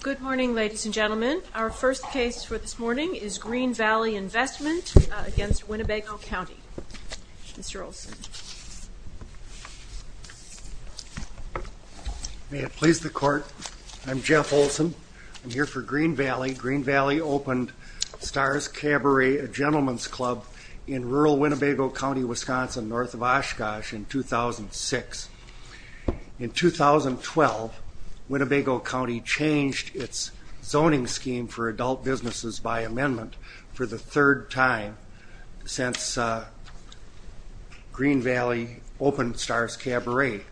Good morning ladies and gentlemen. Our first case for this morning is Green Valley Investment against Winnebago County. Mr. Olson. May it please the court, I'm Jeff Olson. I'm here for Green Valley. Green Valley opened Stars Cabaret, a gentleman's club in rural Winnebago County, Wisconsin north of Oshkosh in 2006. In 2012, Winnebago County changed its zoning scheme for adult businesses by amendment for the third time since Green Valley opened Stars Cabaret,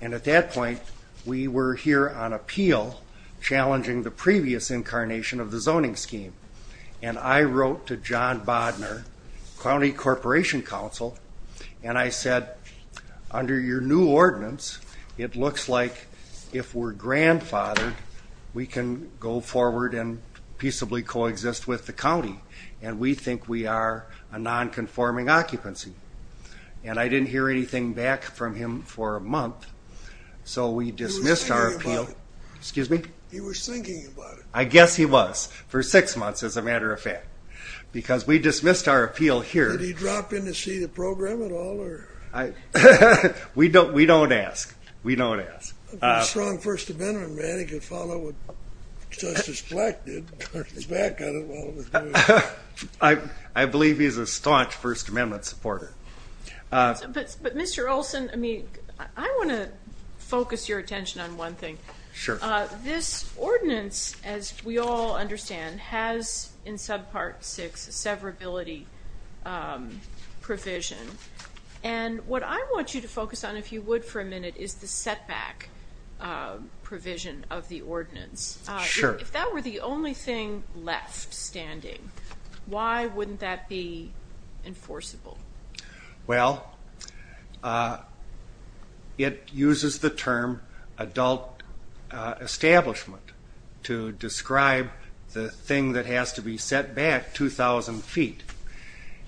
and at that point we were here on appeal challenging the previous incarnation of the zoning scheme, and I wrote to John Bodner, County Corporation Counsel, and I said under your new ordinance it looks like if we're grandfathered we can go forward and peaceably coexist with the county, and we think we are a non-conforming occupancy, and I didn't hear anything back from him for a month so we dismissed our appeal. He was thinking about it. I guess he was for six months as a matter of fact, because we dismissed our appeal here. Did he drop in to see the We don't ask. We don't ask. He's a strong First Amendment man, he could follow what Justice Fleck did, turn his back on it while he was doing it. I believe he's a staunch First Amendment supporter. But Mr. Olson, I mean I want to focus your attention on one thing. Sure. This ordinance, as we all understand, has in subpart six severability provision, and what I want you to focus on if you would for a minute is the setback provision of the ordinance. Sure. If that were the only thing left standing, why wouldn't that be enforceable? Well, it has to be set back 2,000 feet,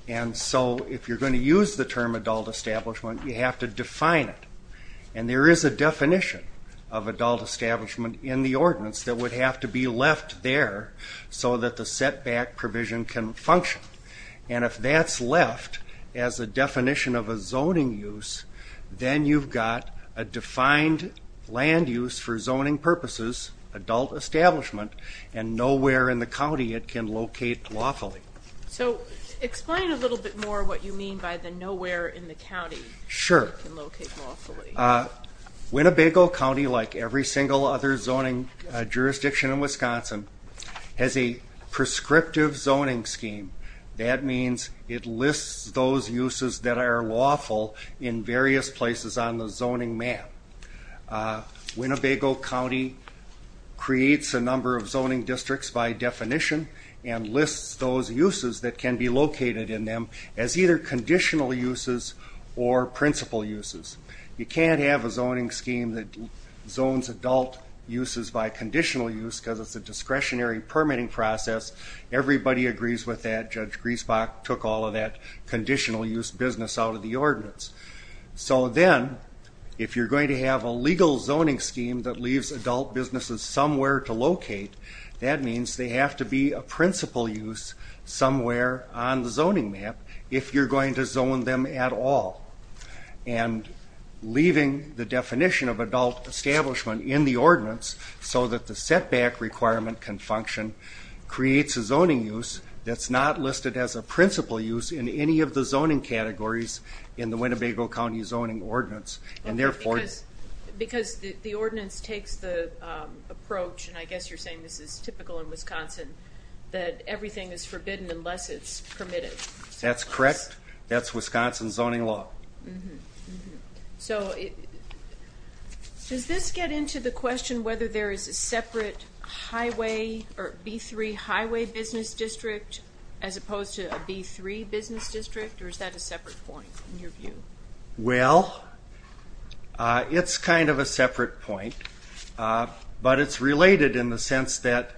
and so if you're going to use the term adult establishment, you have to define it. And there is a definition of adult establishment in the ordinance that would have to be left there so that the setback provision can function. And if that's left as a definition of a zoning use, then you've got a defined land use for zoning purposes, adult establishment, and nowhere in the county it can locate lawfully. So explain a little bit more what you mean by the nowhere in the county it can locate lawfully. Sure. Winnebago County, like every single other zoning jurisdiction in Wisconsin, has a prescriptive zoning scheme. That means it lists those uses that are lawful in various places on the zoning districts by definition and lists those uses that can be located in them as either conditional uses or principal uses. You can't have a zoning scheme that zones adult uses by conditional use because it's a discretionary permitting process. Everybody agrees with that. Judge Griesbach took all of that conditional use business out of the ordinance. So then, if you're going to have a legal zoning scheme that leaves adult businesses somewhere to locate, that means they have to be a principal use somewhere on the zoning map if you're going to zone them at all. And leaving the definition of adult establishment in the ordinance so that the setback requirement can function creates a zoning use that's not listed as a principal use in any of the zoning categories in the Winnebago County zoning ordinance and therefore... Because the ordinance takes the approach, and I guess you're saying this is typical in Wisconsin, that everything is forbidden unless it's permitted. That's correct. That's Wisconsin zoning law. So does this get into the question whether there is a separate highway or B3 highway business district as opposed to a B3 business district or is that a separate point in your view? Well, it's kind of a separate point, but it's related in the sense that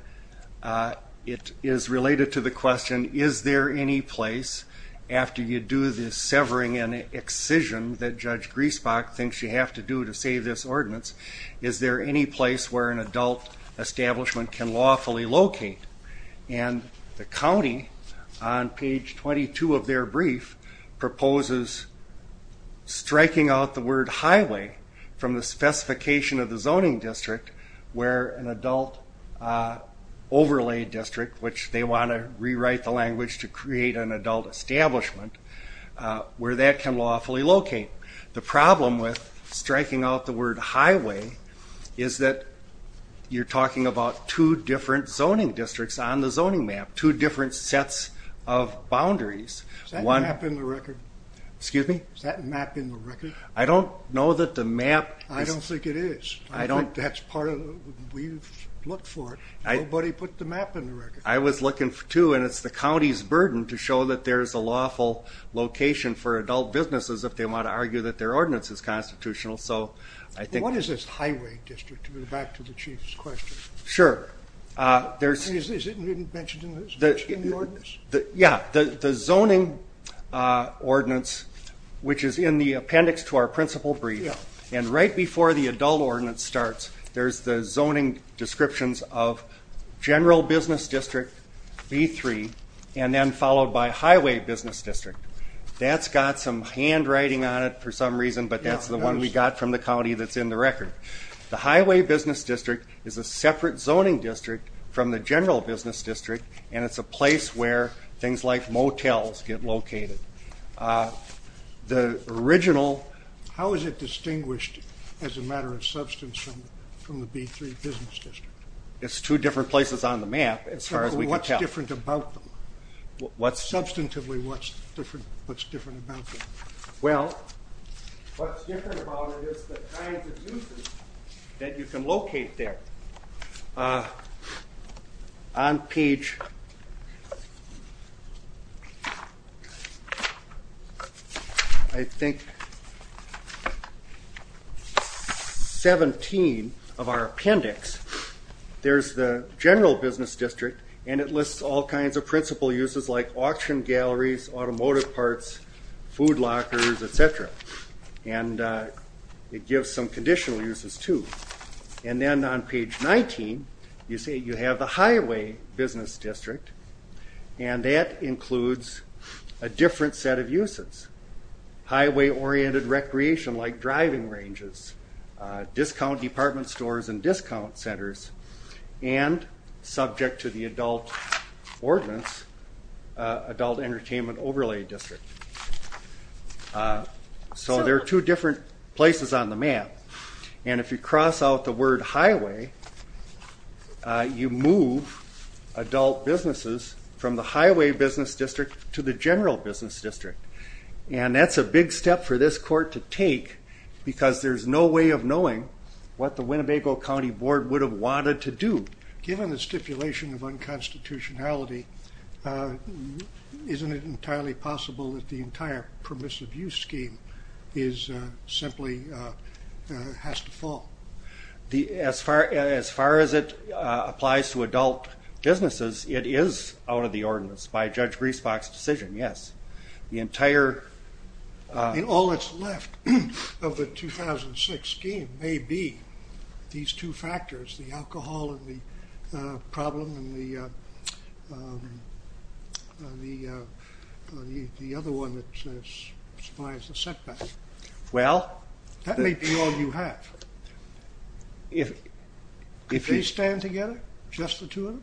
it is related to the question, is there any place after you do this severing and excision that Judge Griesbach thinks you have to do to save this ordinance, is there any place where an adult establishment can lawfully locate? And the county on page 22 of their brief proposes striking out the word highway from the specification of the zoning district where an adult overlay district, which they want to rewrite the language to create an adult establishment, where that can lawfully locate. The problem with striking out the highway is that you're talking about two different zoning districts on the zoning map, two different sets of boundaries. Is that map in the record? Excuse me? Is that map in the record? I don't know that the map... I don't think it is. I don't... I think that's part of what we've looked for. Nobody put the map in the record. I was looking too, and it's the county's burden to show that there's a lawful location for adult businesses if they want to argue that their ordinance is constitutional, so I think... What is this highway district, to go back to the Chief's question? Sure, there's... Is it mentioned in the ordinance? Yeah, the zoning ordinance, which is in the appendix to our principal brief, and right before the adult ordinance starts, there's the zoning descriptions of general business district, B3, and then followed by highway business district. That's got some handwriting on it for some reason, but that's the one we got from the county that's in the record. The highway business district is a separate zoning district from the general business district, and it's a place where things like motels get located. The original... How is it distinguished as a matter of substance from the B3 business district? It's two different places on the map, as far as we can tell. What's different about them? What's... Substantively, what's different about them? Well, what's different about it is the kinds of uses that you can locate there. On page, I think, 17 of our appendix, there's the general business district, and it lists all kinds of principal uses like auction galleries, automotive parts, food lockers, etc., and it gives some conditional uses too. And then on page 19, you see you have the highway business district, and that includes a different set of uses. Highway-oriented recreation like driving ranges, discount department stores and discount centers, and subject to the adult ordinance, adult entertainment overlay district. So there are two different places on the map, and if you cross out the word highway, you move adult businesses from the highway business district to the general business district. And that's a big step for this court to take because there's no way of knowing what the Winnebago County Board would have wanted to do. Given the stipulation of unconstitutionality, isn't it entirely possible that the entire permissive use scheme is simply... has to fall? As far as it applies to adult businesses, it is out of the ordinance by Judge Griesbach's decision, yes. The entire... In all that's left of the 2006 scheme may be these two factors, the alcohol and the problem, and the other one that supplies the setback. Well... That may be all you have. If they stand together, just the two of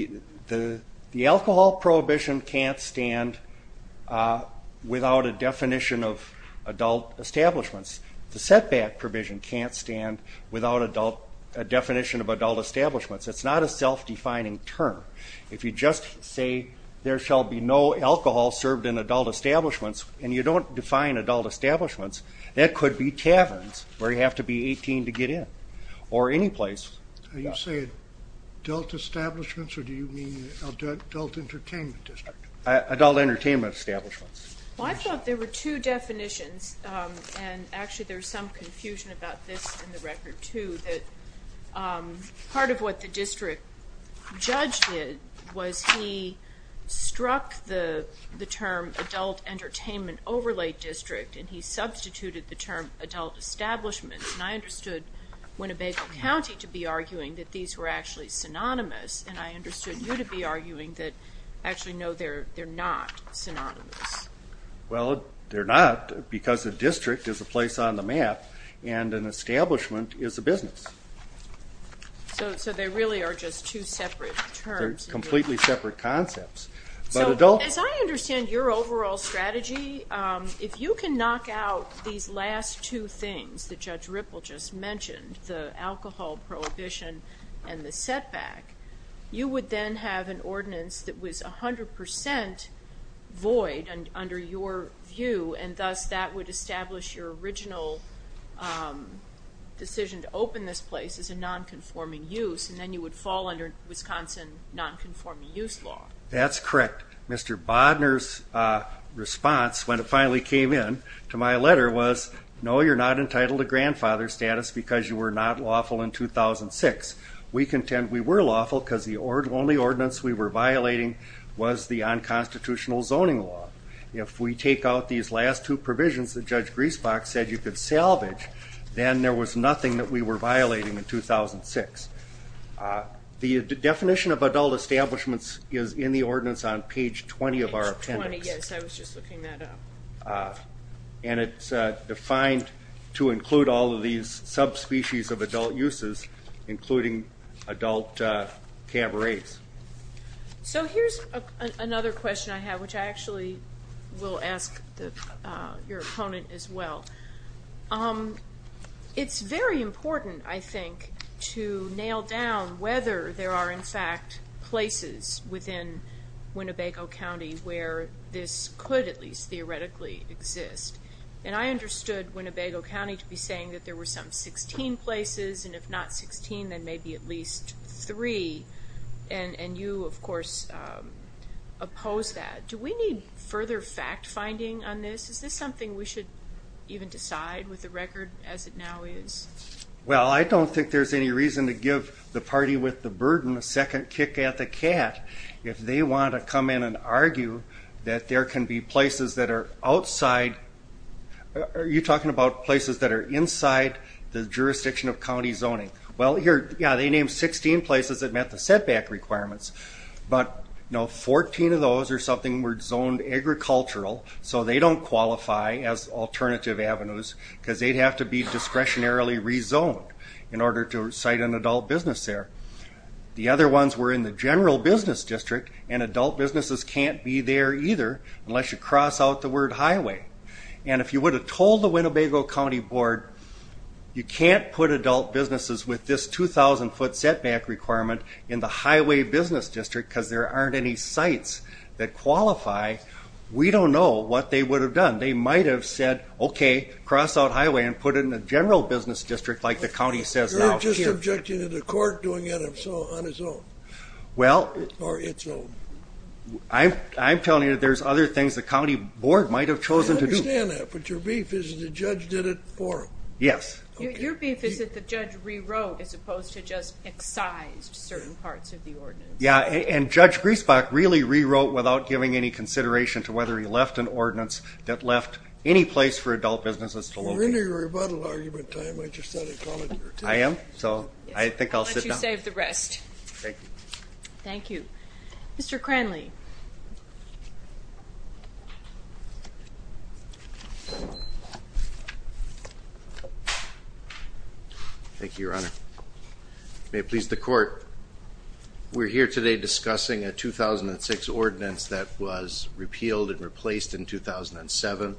them? The alcohol prohibition can't stand without a definition of adult establishments. The setback provision can't stand without a definition of adult establishments. It's not a self-defining term. If you just say there shall be no alcohol served in adult establishments, and you don't define adult establishments, that could be taverns where you have to be 18 to get in, or any place. Are you saying adult establishments, or do you mean adult entertainment district? Adult entertainment establishments. I thought there were two definitions, and actually there's some confusion about this in the record too, that part of what the district judge did was he struck the term adult entertainment overlay district, and he substituted the term adult establishments, and I understood Winnebago County to be arguing that these were actually synonymous, and I understood you to be arguing that actually no, they're not synonymous. Well, they're not because the district is a place on the map, and an establishment is a business. So they really are just two separate terms. They're completely separate concepts. So as I understand your overall strategy, if you can knock out these last two things that Judge Ripple just mentioned, the alcohol prohibition and the setback, you would then have an 100% void under your view, and thus that would establish your original decision to open this place as a non-conforming use, and then you would fall under Wisconsin non-conforming use law. That's correct. Mr. Bodner's response when it finally came in to my letter was, no you're not entitled to grandfather status because you were not lawful in 2006. We contend we were lawful because the only ordinance we were violating was the unconstitutional zoning law. If we take out these last two provisions that Judge Griesbach said you could salvage, then there was nothing that we were violating in 2006. The definition of adult establishments is in the ordinance on page 20 of our appendix, and it's defined to include all of these subspecies of adult uses, including adult cabarets. So here's another question I have, which I actually will ask your opponent as well. It's very important, I think, to nail down whether there are in fact places within Winnebago County where this could at least theoretically exist, and I understood Winnebago County to be saying that there were some 16 places and if not 16 then maybe at least three, and you of course oppose that. Do we need further fact-finding on this? Is this something we should even decide with the record as it now is? Well I don't think there's any reason to give the party with the burden a second kick at the cat if they want to come in and argue that there can be places that are outside, are you talking about places that are inside the jurisdiction of county zoning? Well here, yeah, they named 16 places that met the setback requirements, but you know 14 of those or something were zoned agricultural, so they don't qualify as alternative avenues because they'd have to be discretionarily rezoned in order to cite an adult business there. The other ones were in the general business district and adult businesses can't be there either unless you cross out the word highway, and if you would have told the Winnebago County Board you can't put adult businesses with this 2,000 foot setback requirement in the highway business district because there aren't any sites that qualify, we don't know what they would have done. They might have said okay, cross out highway and put it in the general business district like the county says now. You're just objecting to the court doing it on its own. Well, I'm telling you there's other things the county board might have chosen to do. I understand that, but your beef is that the judge did it for them. Yes. Your beef is that the judge rewrote as opposed to just excised certain parts of the ordinance. Yeah, and Judge Griesbach really rewrote without giving any consideration to whether he left an ordinance that left any place for adult businesses to locate. You're in your rebuttal argument time, I just thought I'd call it here too. I am, so I think I'll sit down. I'll let you save the rest. Thank you. Thank you. Mr. Cranley. Thank you, Your Honor. May it please the court, we're here today discussing a 2006 ordinance that was repealed and replaced in 2007.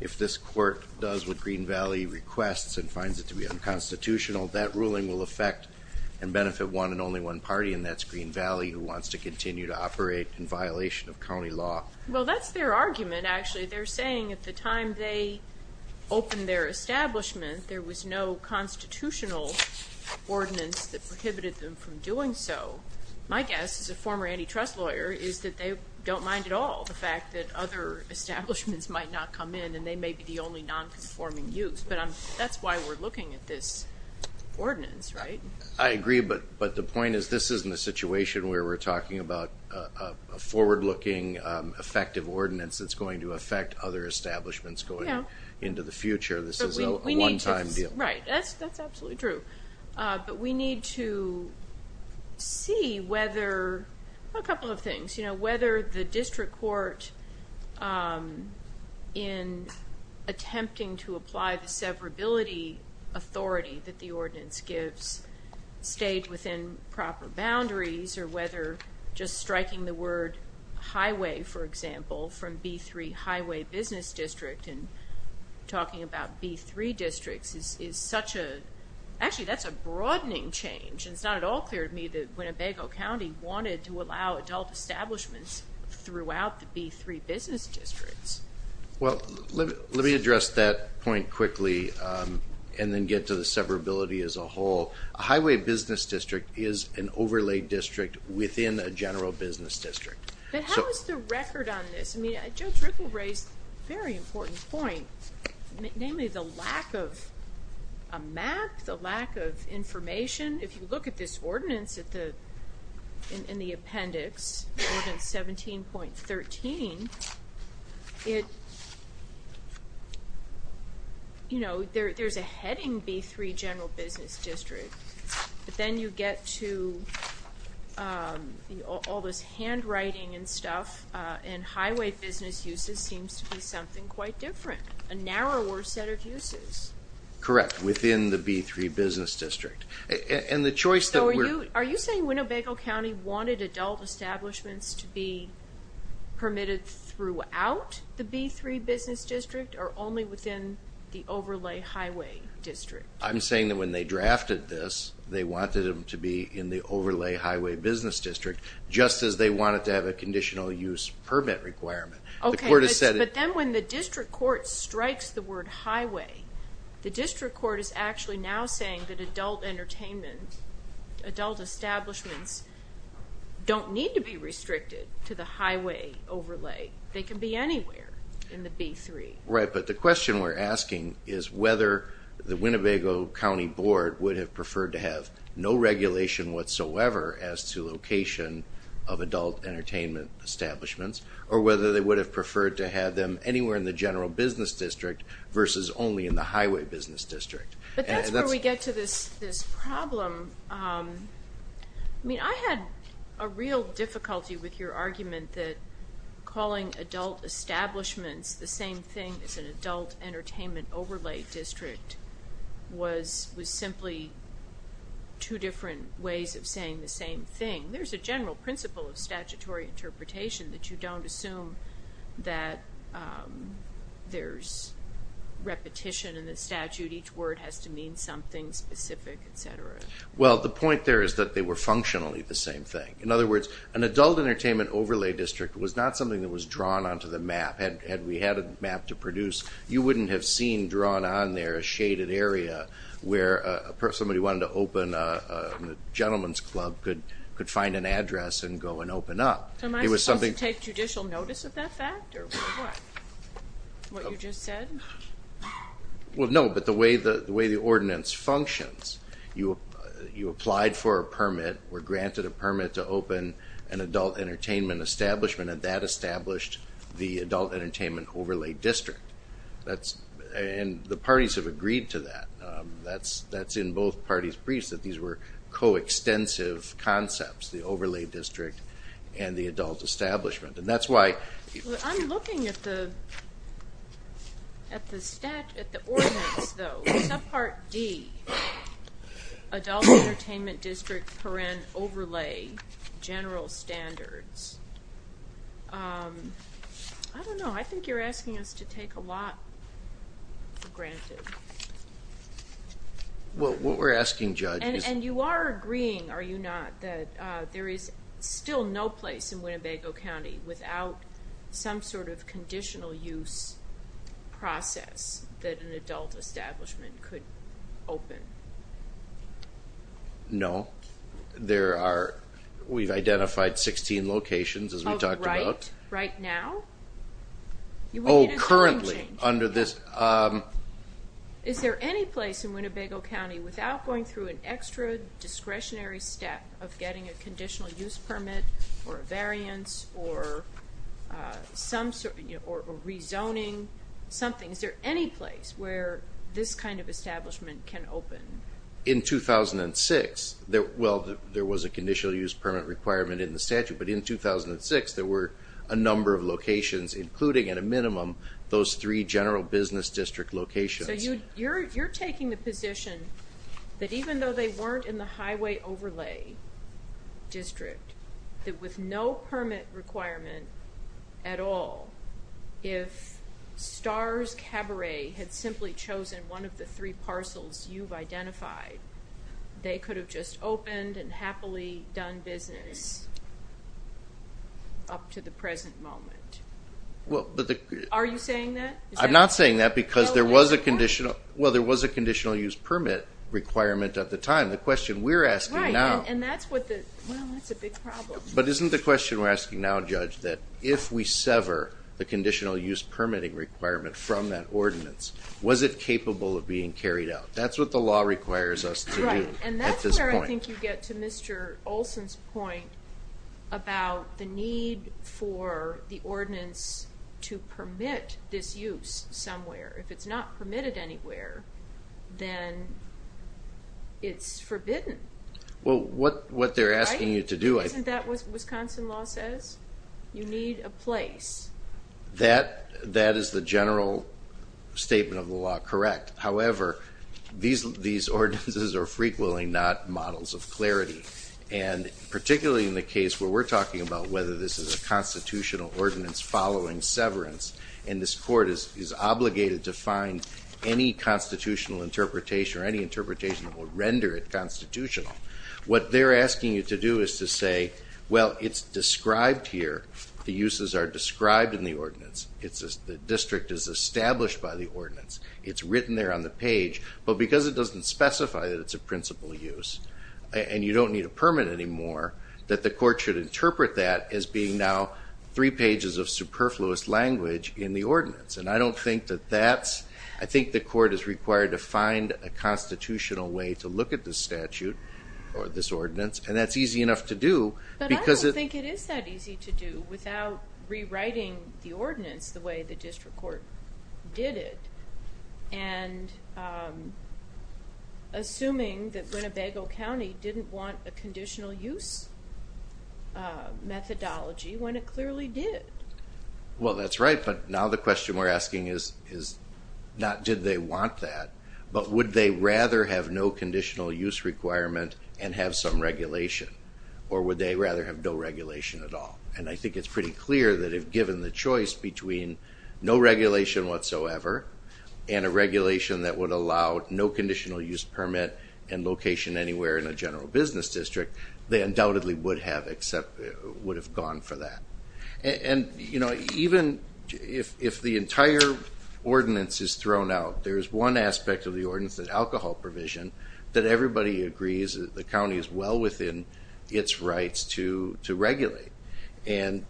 If this court does what Green Valley requests and finds it to be unconstitutional, that ruling will affect and benefit one and only one party, and that's Green Valley, who wants to continue to operate in violation of county law. Well, that's their argument, actually. They're saying at the time they opened their establishment, there was no constitutional ordinance that prohibited them from doing so. My guess, as a former antitrust lawyer, is that they don't mind at all the fact that other establishments might not come in and they may be the only non-conforming use, but that's why we're looking at this ordinance, right? I agree, but the point is this isn't a situation where we're talking about a forward-looking, effective ordinance that's going to affect other establishments going into the future. This is a one-time deal. Right, that's absolutely true, but we need to see whether, a couple of things, you know, whether the district court, in attempting to apply the severability authority that the ordinance gives, stayed within proper boundaries, or whether just striking the word highway, for example, from B3 Highway Business District and talking about B3 districts is such a, actually, that's a broadening change, and it's not at all clear to me that Winnebago County wanted to allow adult establishments throughout the B3 business districts. Well, let me address that point quickly, and then get to the severability as a whole. A highway business district is an overlaid district within a general business district. But how is the record on this? I mean, Joe Trickle raised a very important point, namely the lack of a map, the lack of information. If you look at this ordinance in the appendix, Ordinance 17.13, it, you know, there's a heading B3 general business district, but then you get to all this handwriting and stuff, and highway business uses seems to be something quite different, a narrower set of uses. Correct, within the B3 business district, and the choice that we're... So are you saying Winnebago County wanted adult establishments to be permitted throughout the B3 business district, or only within the overlay highway district? I'm saying that when they drafted this, they wanted them to be in the overlay highway business district, just as they wanted to have a conditional use permit requirement. Okay, but then when the district court strikes the word highway, the district court is actually now saying that adult entertainment, adult establishments, don't need to be restricted to the highway overlay. They can be anywhere in the B3. Right, but the question we're asking is whether the Winnebago County Board would have preferred to have no regulation whatsoever as to location of adult entertainment establishments, or whether they would have preferred to have them in the highway business district. But that's where we get to this problem. I mean, I had a real difficulty with your argument that calling adult establishments the same thing as an adult entertainment overlay district was simply two different ways of saying the same thing. There's a general principle of statutory statute, each word has to mean something specific, etc. Well, the point there is that they were functionally the same thing. In other words, an adult entertainment overlay district was not something that was drawn onto the map. Had we had a map to produce, you wouldn't have seen drawn on there a shaded area where somebody wanted to open a gentleman's club could find an address and go and open up. Am I supposed to take judicial notice of that fact, or what? What you just said? Well, no, but the way the ordinance functions, you applied for a permit, were granted a permit to open an adult entertainment establishment, and that established the adult entertainment overlay district. And the parties have agreed to that. That's in both parties' briefs, that these were co-extensive concepts, the overlay district and the adult establishment. And that's why... I'm looking at the stat, at the ordinance though, subpart D, adult entertainment district parent overlay general standards. I don't know, I think you're asking us to take a lot for granted. Well, what we're asking, Judge... And you are agreeing, are you not, that there is still no place in Winnebago County without some sort of conditional use process that an adult establishment could open? No, there are... We've identified 16 locations, as we talked about. Oh, right now? Oh, currently, under this... Is there any place in Winnebago County, without going through an extra discretionary step of getting a conditional use permit, or a variance, or some sort, or rezoning, something, is there any place where this kind of establishment can open? In 2006, well, there was a conditional use permit requirement in the statute, but in 2006 there were a number of locations, including, at a minimum, those three general business district locations. So you're taking the position that even though they weren't in the highway overlay district, that with no permit requirement at all, if STARS Cabaret had simply chosen one of the three parcels you've identified, they could have just opened and happily done business up to the present moment. Are you saying that because there was a conditional... Well, there was a conditional use permit requirement at the time. The question we're asking now... Right, and that's what the... Well, that's a big problem. But isn't the question we're asking now, Judge, that if we sever the conditional use permitting requirement from that ordinance, was it capable of being carried out? That's what the law requires us to do at this point. Right, and that's where I think you get to Mr. Olson's point about the need for the ordinance to permit this use somewhere. If it's not permitted anywhere, then it's forbidden. Well, what they're asking you to do... Isn't that what Wisconsin law says? You need a place. That is the general statement of the law, correct. However, these ordinances are frequently not models of clarity, and particularly in the case where we're talking about whether this is a constitutional ordinance following severance, and this court is obligated to find any constitutional interpretation or any interpretation that will render it constitutional. What they're asking you to do is to say, well, it's described here. The uses are described in the ordinance. The district is established by the ordinance. It's written there on the page, but because it doesn't specify that it's a principal use, and you don't need a permit anymore, that the court should interpret that as being now three pages of superfluous language in the ordinance. And I don't think that that's... I think the court is required to find a constitutional way to look at this statute or this ordinance, and that's easy enough to do. But I don't think it is that easy to do without rewriting the ordinance the way the district court did it, and assuming that Winnebago County didn't want a methodology when it clearly did. Well that's right, but now the question we're asking is not did they want that, but would they rather have no conditional use requirement and have some regulation, or would they rather have no regulation at all? And I think it's pretty clear that if given the choice between no regulation whatsoever and a regulation that would allow no conditional use permit and location anywhere in a general business district, they would have gone for that. And even if the entire ordinance is thrown out, there's one aspect of the ordinance, that alcohol provision, that everybody agrees that the county is well within its rights to regulate. And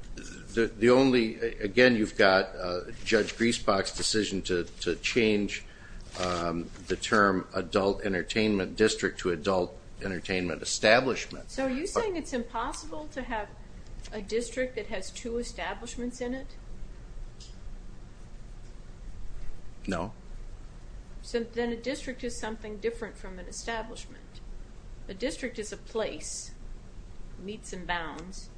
the only... Again, you've got Judge Griesbach's decision to change the term adult entertainment district to adult entertainment establishment. So are you saying it's impossible to have a district that has two establishments in it? No. Then a district is something different from an establishment. A district is a place, meets and bounds,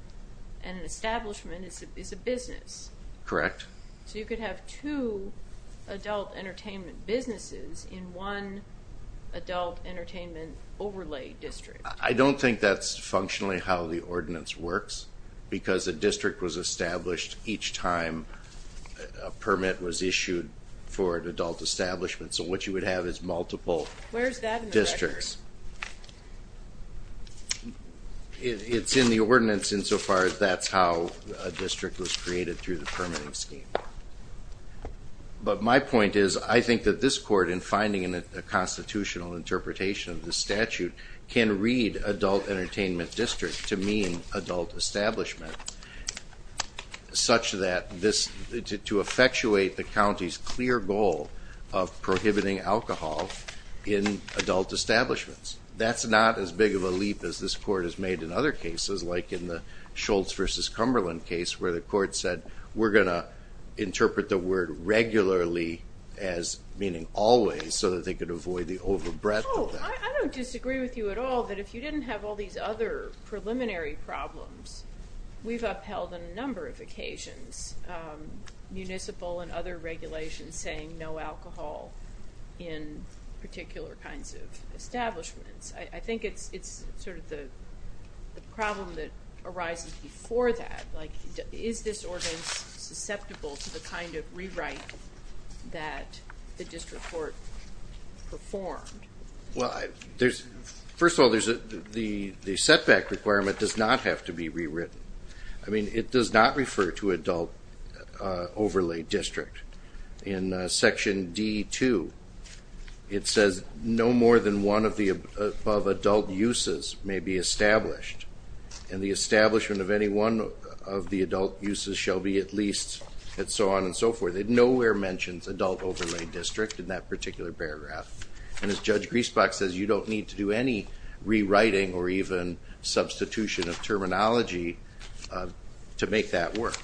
and an establishment is a business. Correct. So you could have two adult entertainment businesses in one adult entertainment overlay district. I don't think that's functionally how the ordinance works, because a district was established each time a permit was issued for an adult establishment. So what you would have is multiple districts. Where is that in the record? It's in the ordinance insofar as that's how a district was created through the permitting scheme. But my point is, I think that this court, in finding a constitutional interpretation of the statute, can read adult entertainment district to mean adult establishment, such that this, to effectuate the county's clear goal of prohibiting alcohol in adult establishments. That's not as big of a leap as this court has made in other cases, like in the Schultz versus Cumberland case, where the court said we're going to interpret the word regularly as meaning always, so that they could avoid the overbreadth. I don't disagree with you at all that if you didn't have all these other preliminary problems, we've upheld on a number of occasions municipal and other regulations saying no alcohol in particular kinds of establishments. I think it's sort of the problem that arises before that, like is this ordinance susceptible to the kind of rewrite that the district court performed? Well, first of all, the setback requirement does not have to be rewritten. I mean, it does not refer to adult overlay district. In section D2, it says no more than one of the above adult uses may be established, and the establishment of any one of the and so forth. It nowhere mentions adult overlay district in that particular paragraph, and as Judge Griesbach says, you don't need to do any rewriting or even substitution of terminology to make that work.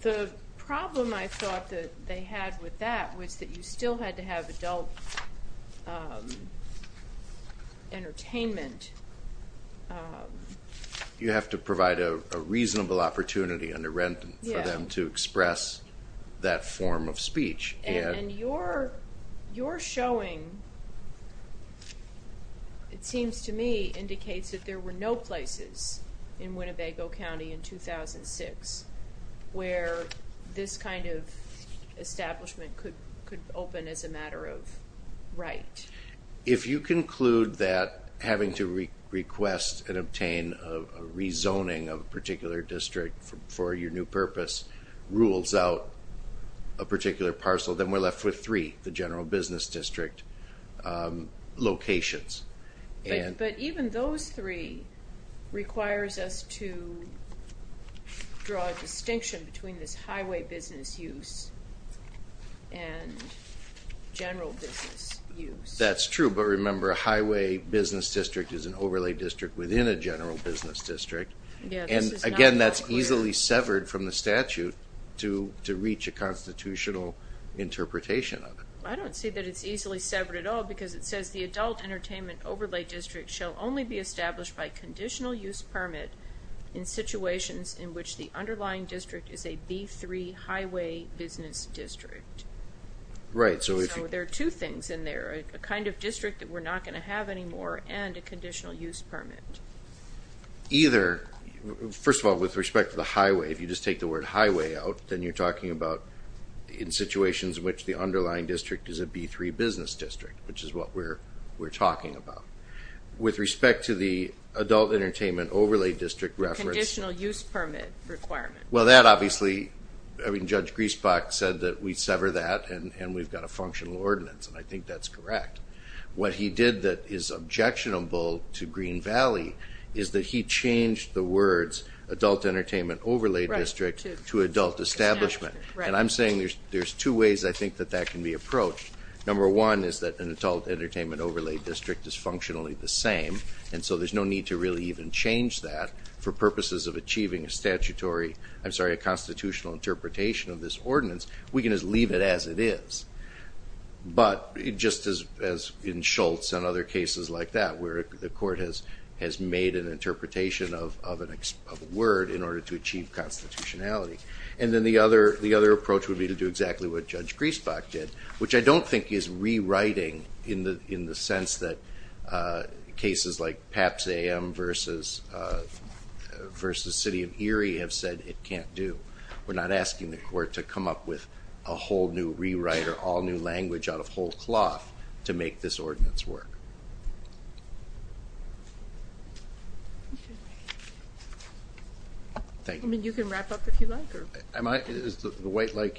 The problem I thought that they had with that was that you still had to have adult entertainment. You have to provide a reasonable opportunity under rent for them to express that form of speech. And your showing, it seems to me, indicates that there were no places in Winnebago County in 2006 where this kind of establishment could open as a matter of right. If you conclude that having to request and zoning of a particular district for your new purpose rules out a particular parcel, then we're left with three, the general business district locations. But even those three requires us to draw a distinction between this highway business use and general business use. That's true, but remember a highway business district is an overlay district within a general business district, and again that's easily severed from the statute to reach a constitutional interpretation of it. I don't see that it's easily severed at all because it says the adult entertainment overlay district shall only be established by conditional use permit in situations in which the underlying district is a B3 highway business district. Right, so there are two things in there, a kind of district that we're not going to have anymore and a conditional use permit. Either, first of all with respect to the highway, if you just take the word highway out, then you're talking about in situations in which the underlying district is a B3 business district, which is what we're we're talking about. With respect to the adult entertainment overlay district reference. Conditional use permit requirement. Well that obviously, I mean I think that's correct. What he did that is objectionable to Green Valley is that he changed the words adult entertainment overlay district to adult establishment, and I'm saying there's two ways I think that that can be approached. Number one is that an adult entertainment overlay district is functionally the same, and so there's no need to really even change that for purposes of achieving a statutory, I'm sorry a constitutional interpretation of this ordinance. We can just leave it as it is, but just as in Schultz and other cases like that where the court has made an interpretation of a word in order to achieve constitutionality. And then the other approach would be to do exactly what Judge Griesbach did, which I don't think is rewriting in the sense that cases like PAPS-AM versus City of Erie have said it come up with a whole new rewrite or all new language out of whole cloth to make this ordinance work. I mean you can wrap up if you like. The white light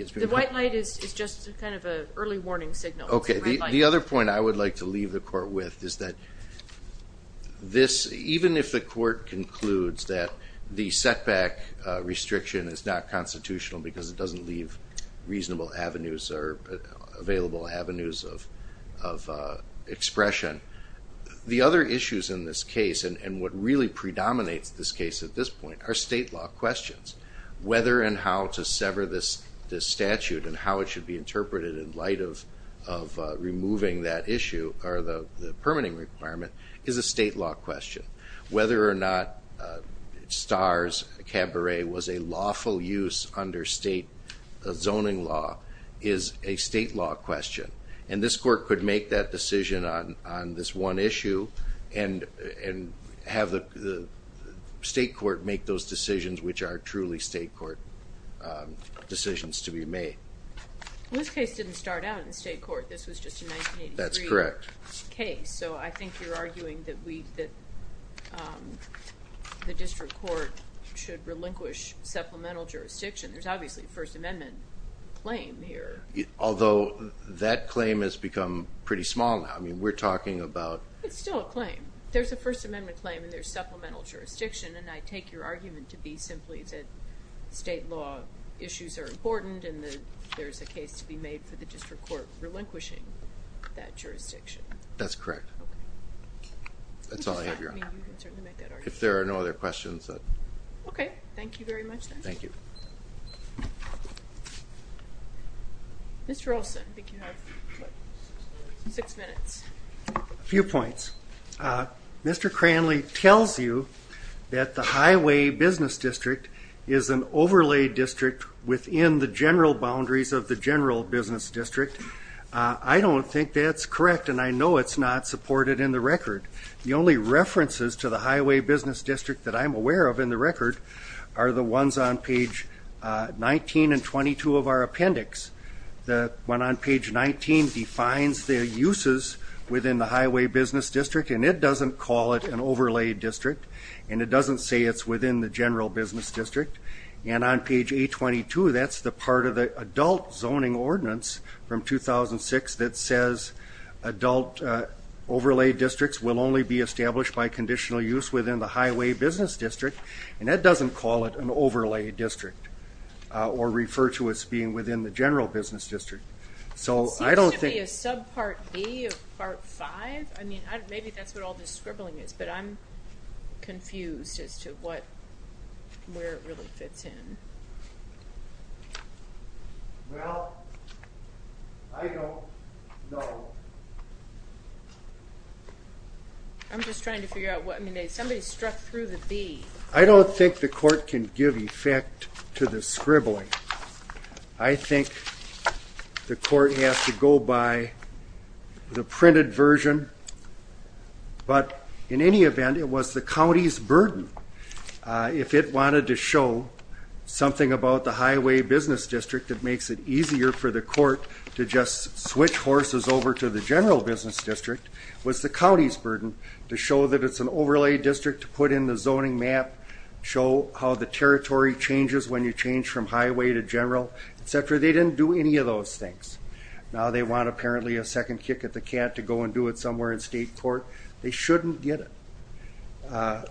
is just kind of an early warning signal. Okay the other point I would like to leave the court with is that this, even if the court concludes that the setback restriction is not constitutional because it doesn't leave reasonable avenues or available avenues of expression, the other issues in this case and what really predominates this case at this point are state law questions. Whether and how to sever this statute and how it should be interpreted in light of removing that issue or the permitting requirement is a state law question. Whether or not STARS Cabaret was a lawful use under state zoning law is a state law question and this court could make that decision on this one issue and have the state court make those decisions which are truly state court decisions to be made. This case didn't start out in the state court, this was just a 1983 case, so I think you're relinquish supplemental jurisdiction. There's obviously a First Amendment claim here. Although that claim has become pretty small now, I mean we're talking about... It's still a claim. There's a First Amendment claim and there's supplemental jurisdiction and I take your argument to be simply that state law issues are important and there's a case to be made for the district court relinquishing that jurisdiction. That's correct. That's all I have your honor. If there are no other questions. Okay, thank you very much. Thank you. Mr. Olsen, I think you have six minutes. A few points. Mr. Cranley tells you that the highway business district is an overlay district within the general boundaries of the general business district. I don't think that's correct and I know it's not supported in the record. The only references to the highway business district that I'm aware of in the record are the ones on page 19 and 22 of our appendix. The one on page 19 defines the uses within the highway business district and it doesn't call it an overlay district and it doesn't say it's within the general business district and on page 822 that's the part of the adult zoning ordinance from 2006 that says adult overlay districts will only be established by conditional use within the highway business district and that doesn't call it an overlay district or refer to as being within the general business district. So I don't think... It seems to be a subpart B of part 5. I mean maybe that's what all this scribbling is but I'm confused as to what where it really fits in. I'm just trying to figure out what somebody struck through the B. I don't think the court can give effect to the scribbling. I think the court has to go by the printed version but in any event it was the county's burden if it wanted to show something about the highway business district that makes it easier for the court to just switch horses over to the general business district was the county's burden to show that it's an overlay district to put in the zoning map, show how the territory changes when you change from highway to general, etc. They didn't do any of those things. Now they want apparently a second kick at the cat to go and do it somewhere in state court. They shouldn't get it.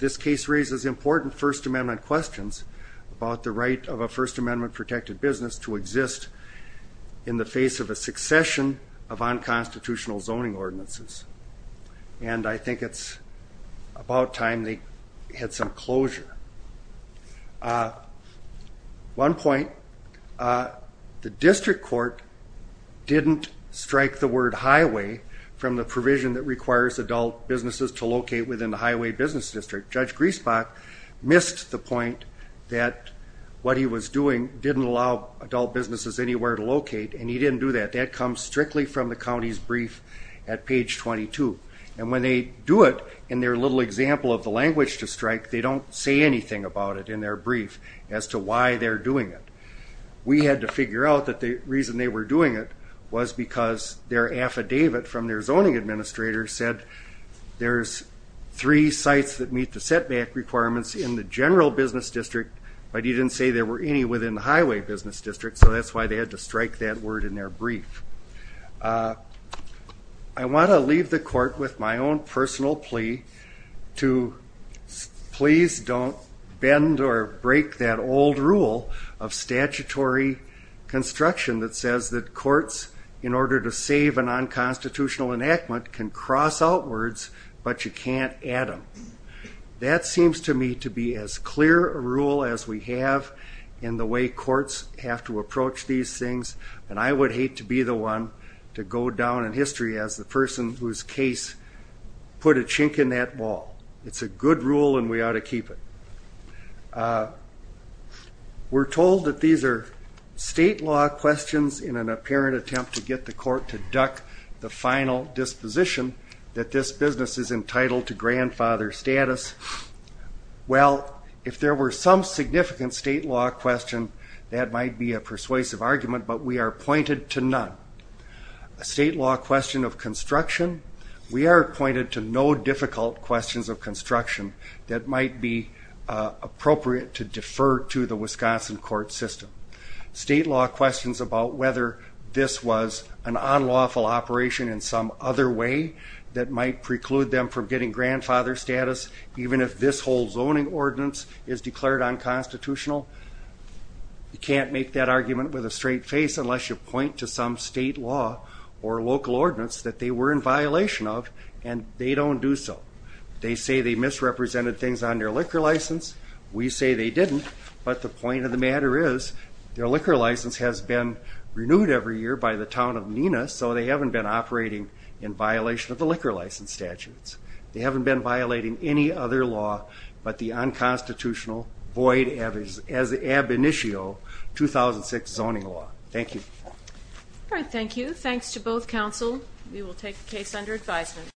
This case raises important First Amendment questions about the right of a First Amendment protected business to exist in the face of a succession of unconstitutional zoning ordinances and I think it's about time they had some closure. One point, the district court didn't strike the word highway from the provision that requires adult businesses to locate within the highway business district. Judge Griesbach missed the point that what he was doing didn't allow adult businesses anywhere to locate and he didn't do that. That comes strictly from the county's brief at page 22 and when they do it in their little example of the language to strike they don't say anything about it in their brief as to why they're doing it. We had to figure out that the reason they were doing it was because their affidavit from their zoning administrator said there's three sites that meet the setback requirements in the general business district but he didn't say there were any within the highway business district so that's why they had to strike that word in their brief. I want to leave the court with my own personal plea to please don't bend or break that old rule of statutory construction that says that courts in order to save a non-constitutional enactment can cross outwards but you can't add them. That seems to me to be as clear a rule as we have in the way courts have to approach these things and I would hate to be the one to go down in history as the person whose case put a chink in that wall. It's a good rule and we ought to keep it. We're told that these are state law questions in an apparent attempt to get the court to duck the final disposition that this business is entitled to grandfather status. Well if there were some significant state law question that might be a persuasive argument but we are pointed to none. A state law question of construction we are pointed to no difficult questions of construction that might be appropriate to defer to the Wisconsin court system. State law questions about whether this was an unlawful operation in some other way that might preclude them from getting grandfather status even if this whole zoning ordinance is declared unconstitutional. You can't make that argument with a straight face unless you point to some state law or local ordinance that they were in violation of and they don't do so. They say they misrepresented things on their liquor license. We say they didn't but the point of the matter is their liquor license has been renewed every year by the town of Nina so they haven't been operating in violation of the liquor license statutes. They haven't been violating any other law but the unconstitutional void as the ab initio 2006 zoning law. Thank you. All right thank you. Thanks to both counsel. We will take the case under advisement.